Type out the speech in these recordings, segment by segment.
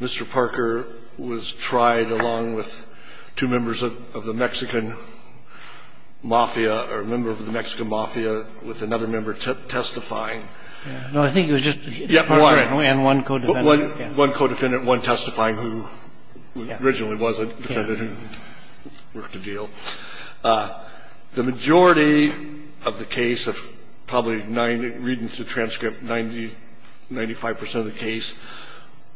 Mr. Parker was tried along with two members of the Mexican Mafia, or a member of the Mexican Mafia, with another member testifying. The majority of the case of probably 90, reading through the transcript, 90, 95 percent of the case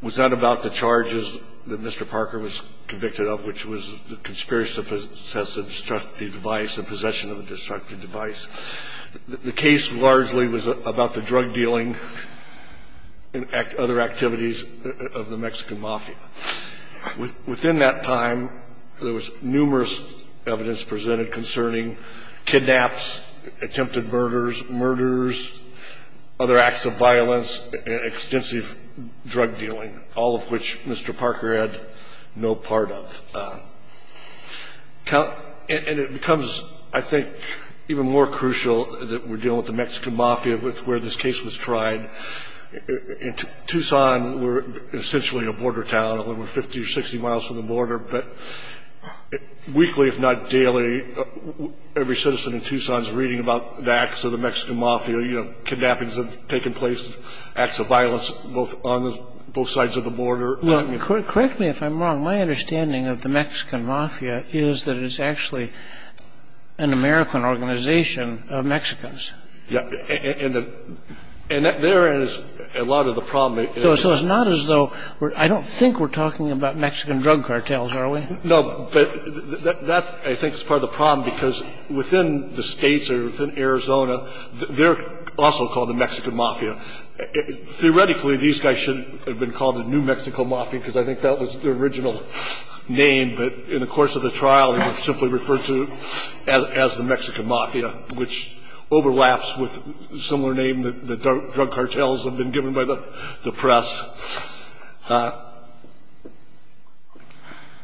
was not about the charges that Mr. Parker was convicted of, which was the conspiracy to possess a destructive device and possession of a destructive device. The case largely was about the drug dealing and other activities of the Mexican Mafia. Within that time, there was numerous evidence presented concerning kidnaps, attempted murders, murders, other acts of violence, extensive drug dealing, all of which Mr. Parker had no part of. And it becomes, I think, even more crucial that we're dealing with the Mexican Mafia with where this case was tried. In Tucson, we're essentially a border town. We're 50 or 60 miles from the border. But weekly, if not daily, every citizen in Tucson is reading about the acts of the Mexican Mafia. Kidnappings have taken place, acts of violence on both sides of the border. Correct me if I'm wrong. My understanding of the Mexican Mafia is that it's actually an American organization of Mexicans. And therein is a lot of the problem. So it's not as though we're – I don't think we're talking about Mexican drug cartels, are we? No, but that, I think, is part of the problem because within the states or within Arizona, they're also called the Mexican Mafia. Theoretically, these guys shouldn't have been called the New Mexico Mafia because I think that was their original name. But in the course of the trial, they were simply referred to as the Mexican Mafia, which overlaps with a similar name that the drug cartels have been given by the press.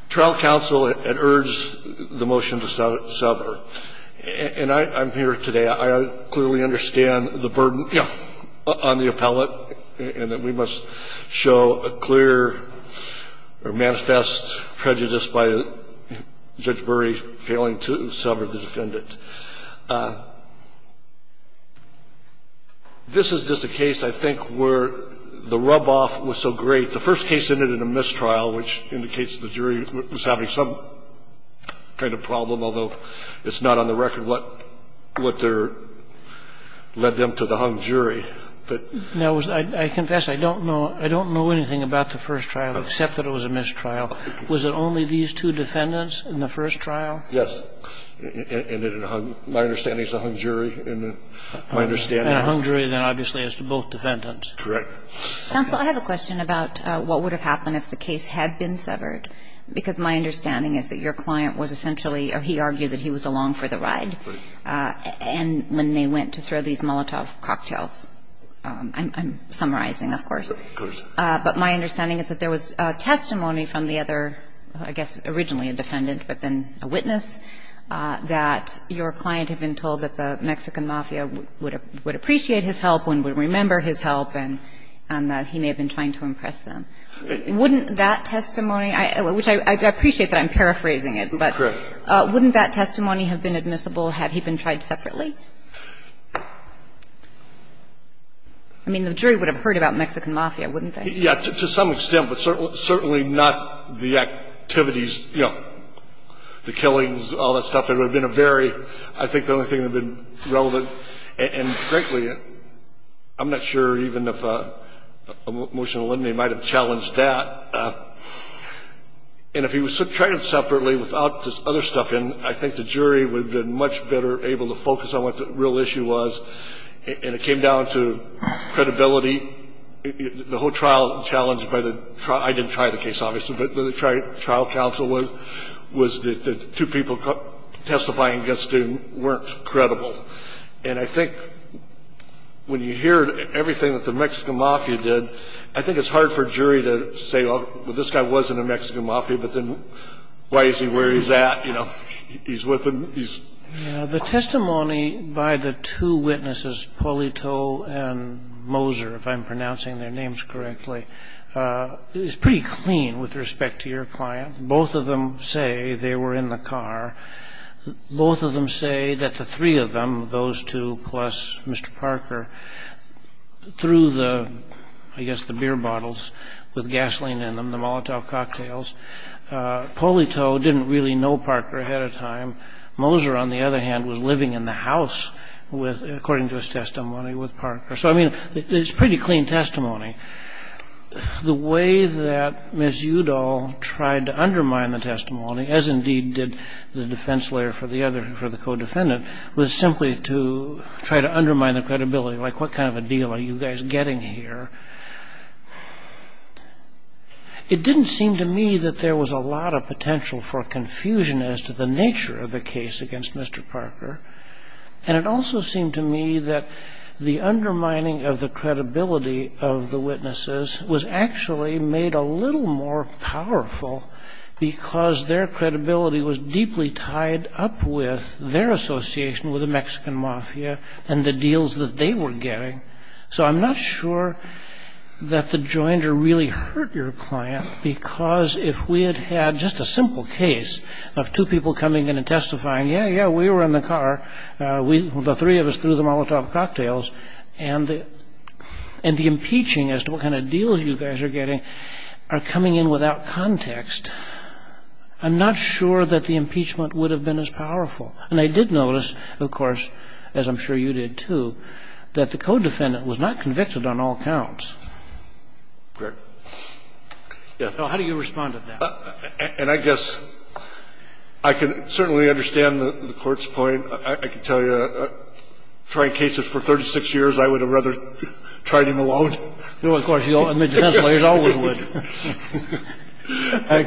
Trial counsel had urged the motion to sever. And I'm here today. I clearly understand the burden on the appellate and that we must show a clear or manifest prejudice by Judge Bury failing to sever the defendant. This is just a case, I think, where the rub-off was so great. The first case ended in a mistrial, which indicates the jury was having some kind of problem, although it's not on the record what their – led them to the hung jury. Now, I confess I don't know anything about the first trial except that it was a mistrial. Was it only these two defendants in the first trial? Yes. And it hung – my understanding is the hung jury. And hung jury, then, obviously, is to both defendants. Correct. Counsel, I have a question about what would have happened if the case had been severed, because my understanding is that your client was essentially – or he argued that he was along for the ride. Right. And when they went to throw these Molotov cocktails. I'm summarizing, of course. Of course. But my understanding is that there was testimony from the other, I guess, originally a defendant, but then a witness, that your client had been told that the Mexican mafia would appreciate his help and would remember his help, and that he may have been trying to impress them. Wouldn't that testimony, which I appreciate that I'm paraphrasing it, but. Correct. Wouldn't that testimony have been admissible had he been tried separately? I mean, the jury would have heard about Mexican mafia, wouldn't they? Yeah, to some extent, but certainly not the activities, you know, the killings, all that stuff. It would have been a very – I think the only thing that would have been relevant and, frankly, I'm not sure even if a motion would have challenged that. And if he was tried separately without this other stuff in, I think the jury would have been much better able to focus on what the real issue was, and it came down to credibility. The whole trial challenged by the – I didn't try the case, obviously, but the trial counsel was that the two people testifying against him weren't credible. And I think when you hear everything that the Mexican mafia did, I think it's hard for a jury to say, well, this guy wasn't a Mexican mafia, but then why is he where he's at? You know, he's with them, he's. The testimony by the two witnesses, Polito and Moser, if I'm pronouncing their names correctly, is pretty clean with respect to your client. Both of them say they were in the car. Both of them say that the three of them, those two plus Mr. Parker, threw the, I guess, the beer bottles with gasoline in them, the Molotov cocktails. Polito didn't really know Parker ahead of time. Moser, on the other hand, was living in the house, according to his testimony, with Parker. So, I mean, it's pretty clean testimony. The way that Ms. Udall tried to undermine the testimony, as indeed did the defense lawyer for the other, for the co-defendant, was simply to try to undermine the credibility, like what kind of a deal are you guys getting here? It didn't seem to me that there was a lot of potential for confusion as to the nature of the case against Mr. Parker, and it also seemed to me that the undermining of the credibility of the witnesses was actually made a little more powerful, because their credibility was deeply tied up with their association with the Mexican Mafia and the deals that they were getting. So I'm not sure that the joinder really hurt your client, because if we had had just a simple case of two people coming in and testifying, yeah, yeah, we were in the car, the three of us threw the Molotov cocktails, and the impeaching as to what kind of deals you guys are getting are coming in without context, I'm not sure that the impeachment would have been as powerful. And I did notice, of course, as I'm sure you did, too, that the co-defendant was not convicted on all counts. So how do you respond to that? And I guess I can certainly understand the Court's point. I can tell you, trying cases for 36 years, I would have rather tried him alone. No, of course, essentially, as always would.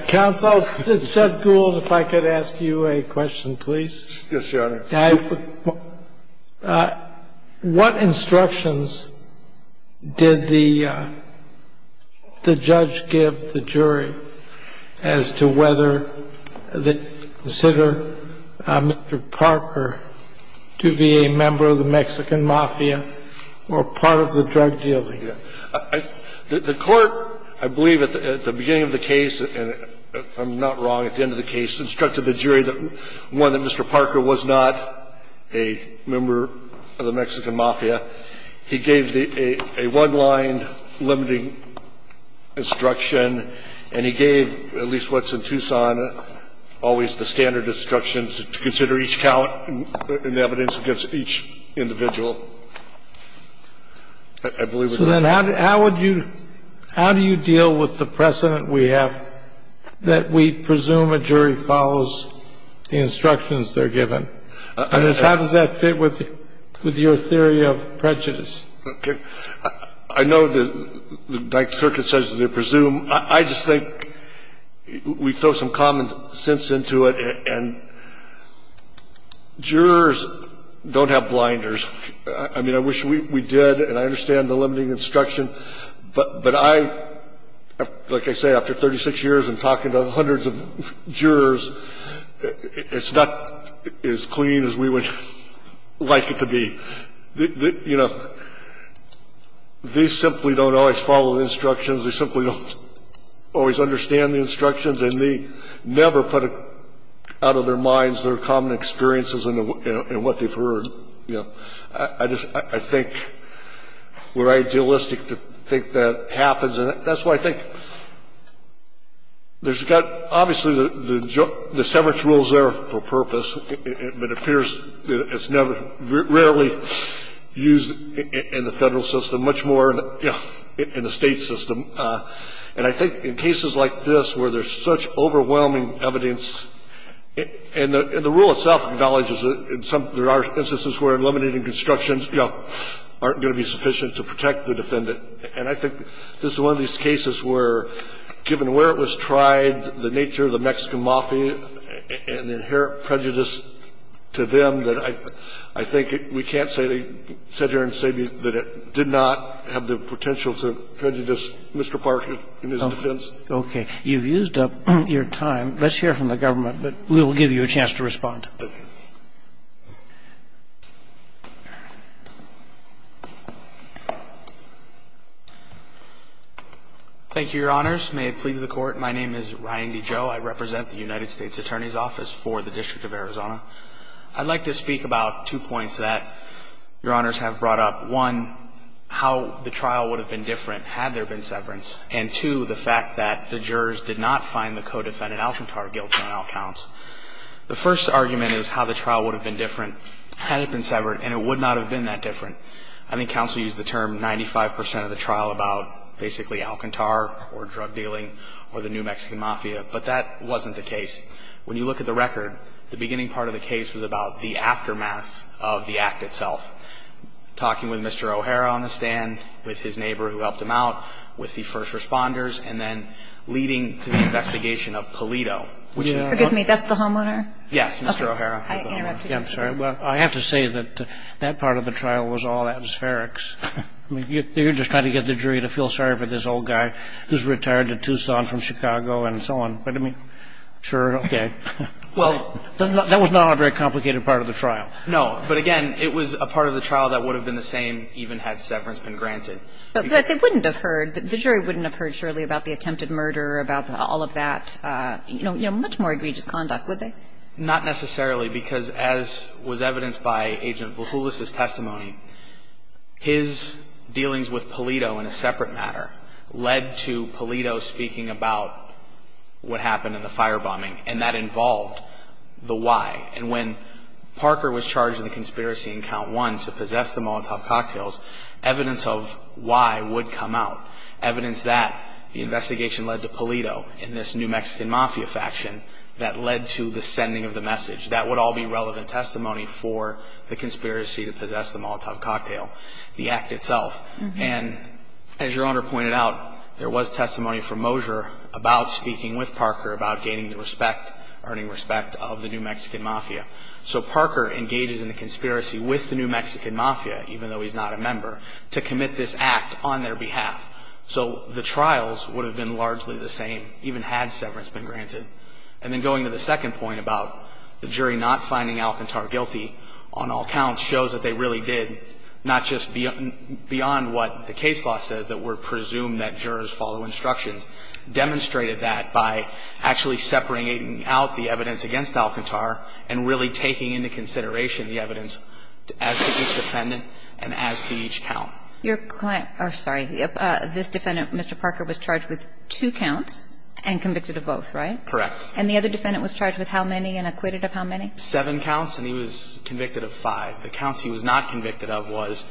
Counsel, Judge Gould, if I could ask you a question, please. Yes, Your Honor. I have a question. What instructions did the judge give the jury as to whether to consider Mr. Parker to be a member of the Mexican Mafia or part of the drug dealing? The Court, I believe, at the beginning of the case, if I'm not wrong, at the end of the case, instructed the jury, one, that Mr. Parker was not a member of the Mexican Mafia. He gave a one-line limiting instruction. And he gave, at least what's in Tucson, always the standard instructions to consider each count and the evidence against each individual. I believe it was that. So then how would you – how do you deal with the precedent we have that we presume a jury follows the instructions they're given? I mean, how does that fit with your theory of prejudice? Okay. I know the Ninth Circuit says they presume. I just think we throw some common sense into it. And jurors don't have blinders. I mean, I wish we did, and I understand the limiting instruction. But I, like I say, after 36 years and talking to hundreds of jurors, it's not as clean as we would like it to be. You know, they simply don't always follow the instructions. They simply don't always understand the instructions. And they never put out of their minds their common experiences and what they've heard. So I think we're idealistic to think that happens. And that's why I think there's got – obviously, the severance rule is there for purpose, but it appears it's never – rarely used in the Federal system, much more in the State system. And I think in cases like this where there's such overwhelming evidence – And the rule itself acknowledges that there are instances where eliminating constructions, you know, aren't going to be sufficient to protect the defendant. And I think this is one of these cases where, given where it was tried, the nature of the Mexican Mafia, and the inherent prejudice to them, that I think we can't sit here and say that it did not have the potential to prejudice Mr. Park in his defense. Roberts. Okay. You've used up your time. Let's hear from the government, but we will give you a chance to respond. Thank you, Your Honors. May it please the Court. My name is Ryan D. Joe. I represent the United States Attorney's Office for the District of Arizona. I'd like to speak about two points that Your Honors have brought up. One, how the trial would have been different had there been severance. And two, the fact that the jurors did not find the co-defendant, Alcantar, guilty on all counts. The first argument is how the trial would have been different had it been severed, and it would not have been that different. I think counsel used the term 95 percent of the trial about basically Alcantar or drug dealing or the new Mexican Mafia, but that wasn't the case. When you look at the record, the beginning part of the case was about the aftermath of the act itself. Talking with Mr. O'Hara on the stand, with his neighbor who helped him out, with the first responders, and then leading to the investigation of Pulido. Forgive me, that's the homeowner? Yes, Mr. O'Hara is the homeowner. I have to say that that part of the trial was all atmospherics. You're just trying to get the jury to feel sorry for this old guy who's retired to Tucson from Chicago and so on. But, I mean, sure, okay. Well, that was not a very complicated part of the trial. No, but again, it was a part of the trial that would have been the same even had severance been granted. But they wouldn't have heard, the jury wouldn't have heard, surely, about the attempted murder, about all of that, you know, much more egregious conduct, would they? Not necessarily, because as was evidenced by Agent Vujulis' testimony, his dealings with Pulido in a separate matter led to Pulido speaking about what happened in the firebombing, and that involved the why. And when Parker was charged in the conspiracy in count one to possess the Molotov cocktails, evidence of why would come out. Evidence that the investigation led to Pulido in this New Mexican Mafia faction that led to the sending of the message. That would all be relevant testimony for the conspiracy to possess the Molotov cocktail, the act itself. And as Your Honor pointed out, there was testimony from Mosier about speaking with Parker about gaining the respect, earning respect of the New Mexican Mafia. So Parker engages in a conspiracy with the New Mexican Mafia, even though he's not a member, to commit this act on their behalf. So the trials would have been largely the same, even had severance been granted. And then going to the second point about the jury not finding Alcantar guilty on all counts shows that they really did, not just beyond what the case law says, that we're presumed that jurors follow instructions. Demonstrated that by actually separating out the evidence against Alcantar and really taking into consideration the evidence as to each defendant and as to each count. Your client, or sorry, this defendant, Mr. Parker, was charged with two counts and convicted of both, right? Correct. And the other defendant was charged with how many and acquitted of how many? Seven counts, and he was convicted of five. The counts he was not convicted of was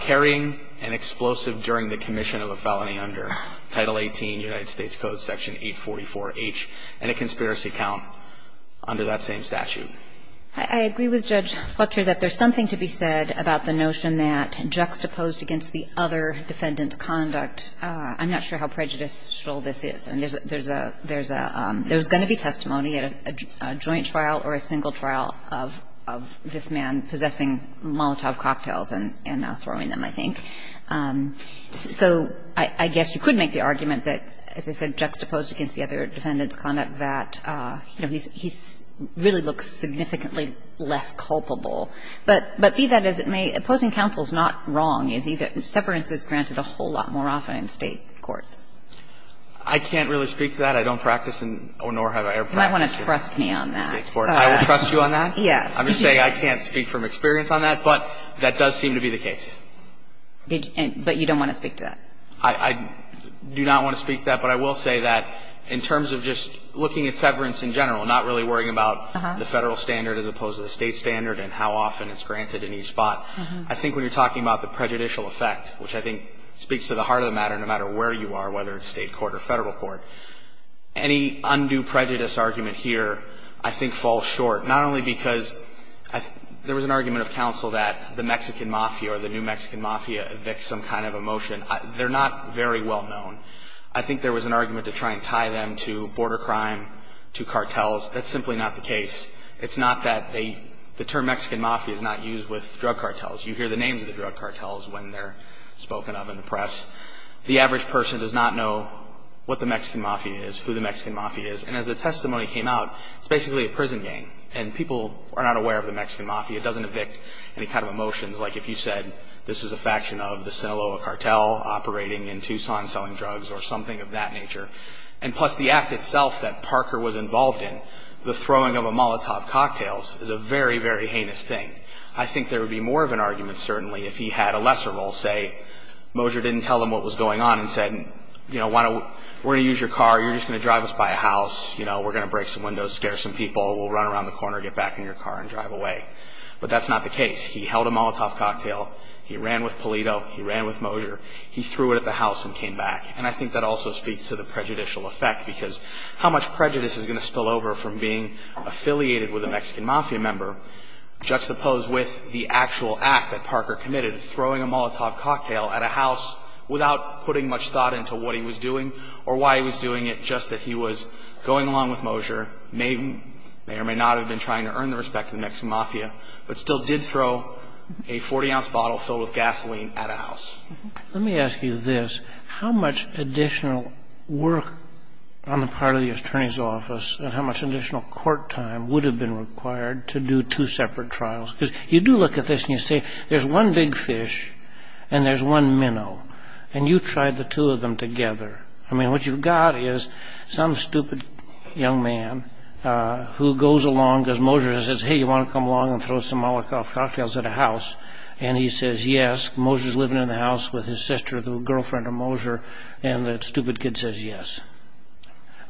carrying an explosive during the commission of a felony under Title 18, United States Code, Section 844H, and a conspiracy count under that same statute. I agree with Judge Fletcher that there's something to be said about the notion that juxtaposed against the other defendant's conduct. I'm not sure how prejudicial this is. There's a – there's going to be testimony at a joint trial or a single trial of this man possessing Molotov cocktails and throwing them, I think. So I guess you could make the argument that, as I said, juxtaposed against the other defendant's conduct, that he really looks significantly less culpable. But be that as it may, opposing counsel is not wrong, is he? That severance is granted a whole lot more often in State courts. I can't really speak to that. I don't practice in or nor have I ever practiced in State court. You might want to trust me on that. I will trust you on that? Yes. I'm just saying I can't speak from experience on that, but that does seem to be the But you don't want to speak to that? I do not want to speak to that, but I will say that in terms of just looking at severance in general, not really worrying about the Federal standard as opposed to the State standard and how often it's granted in each spot, I think when you're talking about the prejudicial effect, which I think speaks to the heart of the matter, no matter where you are, whether it's State court or Federal court, any undue prejudice argument here I think falls short, not only because there was an argument of counsel that the Mexican Mafia or the new Mexican Mafia evicts some kind of a motion. They're not very well known. I think there was an argument to try and tie them to border crime, to cartels. That's simply not the case. It's not that the term Mexican Mafia is not used with drug cartels. You hear the names of the drug cartels when they're spoken of in the press. The average person does not know what the Mexican Mafia is, who the Mexican Mafia is, and as the testimony came out, it's basically a prison gang, and people are not aware of the Mexican Mafia. It doesn't evict any kind of a motion. Like if you said this was a faction of the Sinaloa cartel operating in Tucson selling drugs or something of that nature, and plus the act itself that Parker was involved in, the throwing of Molotov cocktails, is a very, very heinous thing. I think there would be more of an argument certainly if he had a lesser role, say Moser didn't tell them what was going on and said, you know, we're going to use your car, you're just going to drive us by a house, you know, we're going to break some windows, scare some people, we'll run around the corner, get back in your car and drive away. But that's not the case. He held a Molotov cocktail, he ran with Pulido, he ran with Moser, he threw it at the house and came back. And I think that also speaks to the prejudicial effect, because how much prejudice is going to spill over from being affiliated with a Mexican Mafia member, juxtaposed with the actual act that Parker committed, throwing a Molotov cocktail at a house without putting much thought into what he was doing or why he was doing it, just that he was going along with Moser, may or may not have been trying to earn the respect of the Mexican Mafia, but still did throw a 40-ounce bottle filled with gasoline at a house. Let me ask you this. How much additional work on the part of the attorney's office and how much additional court time would have been required to do two separate trials? Because you do look at this and you say there's one big fish and there's one minnow, and you tried the two of them together. I mean, what you've got is some stupid young man who goes along, because Moser says, hey, you want to come along and throw some Molotov cocktails at a house, and he says yes. Moser's living in the house with his sister, the girlfriend of Moser, and that stupid kid says yes.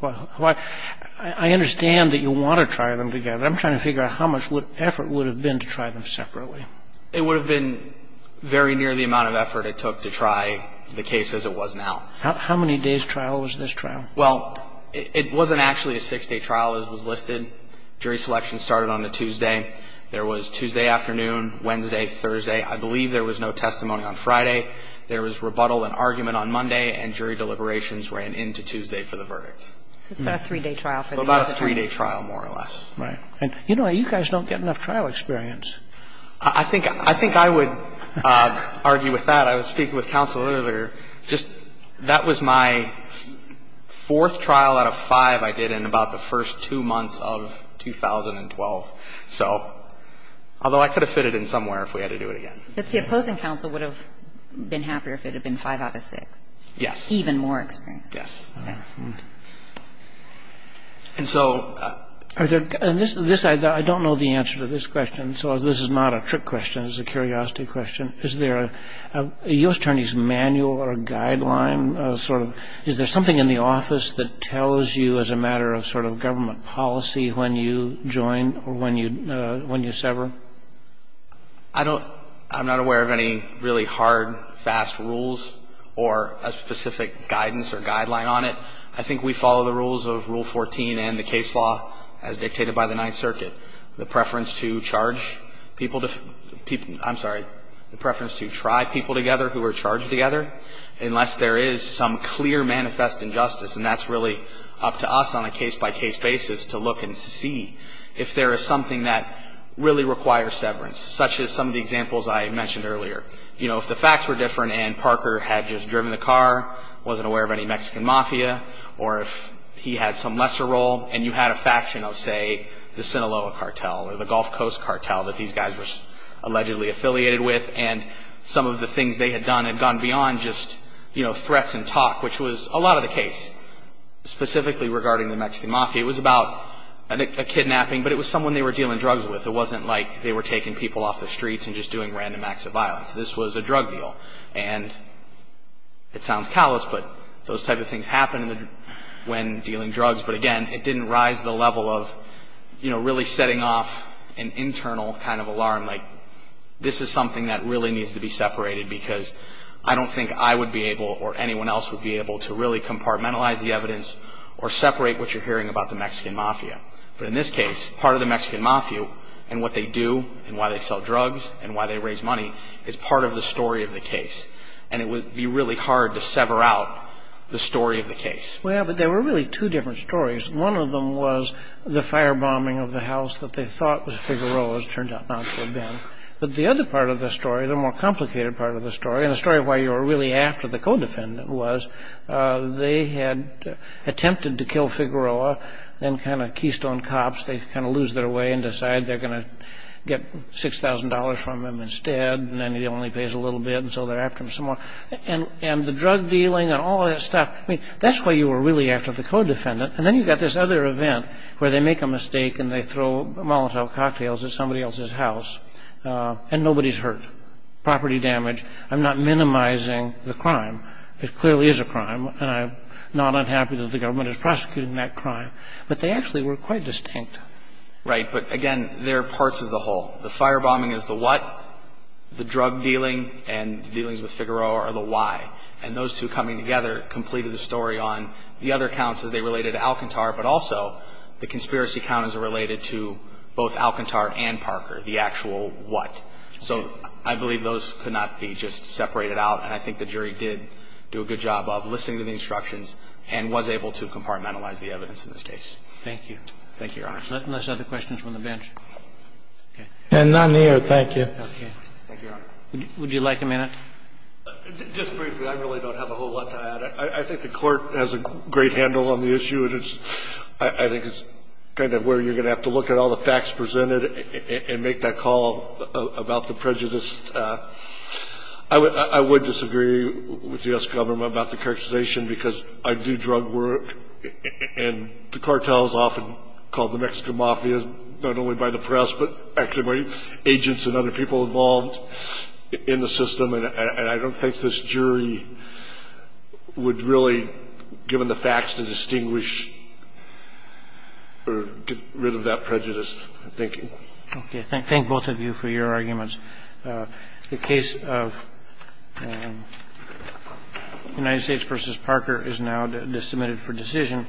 I understand that you want to try them together. I'm trying to figure out how much effort would have been to try them separately. It would have been very near the amount of effort it took to try the case as it was now. How many days' trial was this trial? Well, it wasn't actually a six-day trial as was listed. The jury selection started on a Tuesday. There was Tuesday afternoon, Wednesday, Thursday. I believe there was no testimony on Friday. There was rebuttal and argument on Monday, and jury deliberations ran into Tuesday for the verdict. So it's about a three-day trial for the attorney. About a three-day trial, more or less. Right. You know, you guys don't get enough trial experience. I think I would argue with that. I was speaking with counsel earlier. That was my fourth trial out of five I did in about the first two months of 2012. So although I could have fit it in somewhere if we had to do it again. But the opposing counsel would have been happier if it had been five out of six. Yes. Even more experience. Yes. And so this I don't know the answer to this question, so this is not a trick question. This is a curiosity question. Is there a U.S. attorney's manual or a guideline sort of, is there something in the office that tells you as a matter of sort of government policy when you join or when you sever? I don't, I'm not aware of any really hard, fast rules or a specific guidance or guideline on it. I think we follow the rules of Rule 14 and the case law as dictated by the Ninth Circuit. The preference to charge people to, I'm sorry, the preference to try people together who are charged together unless there is some clear manifest injustice. And that's really up to us on a case-by-case basis to look and see if there is something that really requires severance, such as some of the examples I mentioned earlier. You know, if the facts were different and Parker had just driven the car, wasn't aware of any Mexican mafia, or if he had some lesser role and you had a faction of, say, the Sinaloa cartel or the Gulf Coast cartel that these guys were allegedly affiliated with, and some of the things they had done had gone beyond just, you know, threats and talk, which was a lot of the case, specifically regarding the Mexican mafia. It was about a kidnapping, but it was someone they were dealing drugs with. It wasn't like they were taking people off the streets and just doing random acts of violence. This was a drug deal. And it sounds callous, but those type of things happen when dealing drugs. But again, it didn't rise the level of, you know, really setting off an internal kind of alarm, like this is something that really needs to be separated because I don't think I would be able or anyone else would be able to really compartmentalize the evidence or separate what you're hearing about the Mexican mafia. But in this case, part of the Mexican mafia and what they do and why they sell drugs and why they raise money is part of the story of the case. And it would be really hard to sever out the story of the case. Well, but there were really two different stories. One of them was the firebombing of the house that they thought was Figueroa's. It turned out not to have been. But the other part of the story, the more complicated part of the story, and the story of why you were really after the co-defendant was they had attempted to kill Figueroa and kind of keystone cops. They kind of lose their way and decide they're going to get $6,000 from him instead, and then he only pays a little bit, and so they're after him some more. And the drug dealing and all that stuff, I mean, that's why you were really after the co-defendant. And then you've got this other event where they make a mistake and they throw Molotov cocktails at somebody else's house, and nobody's hurt, property damage. I'm not minimizing the crime. It clearly is a crime, and I'm not unhappy that the government is prosecuting that crime. But they actually were quite distinct. Right. But, again, there are parts of the whole. The firebombing is the what. The drug dealing and the dealings with Figueroa are the why. And those two coming together completed the story on the other counts as they related to Alcantar, but also the conspiracy count as it related to both Alcantar and Parker, the actual what. So I believe those could not be just separated out, and I think the jury did do a good job of listening to the instructions and was able to compartmentalize the evidence in this case. Thank you. Thank you, Your Honor. Unless there are other questions from the bench. Okay. And none here. Thank you. Okay. Thank you, Your Honor. Would you like a minute? Just briefly, I really don't have a whole lot to add. I think the Court has a great handle on the issue, and I think it's kind of where you're going to have to look at all the facts presented and make that call about the prejudice. I would disagree with the U.S. government about the characterization because I do drug work, and the cartel is often called the Mexican Mafia, not only by the press, but actually by agents and other people involved in the system. And I don't think this jury would really, given the facts, to distinguish or get rid of that prejudice thinking. Okay. Thank both of you for your arguments. The case of United States v. Parker is now submitted for decision.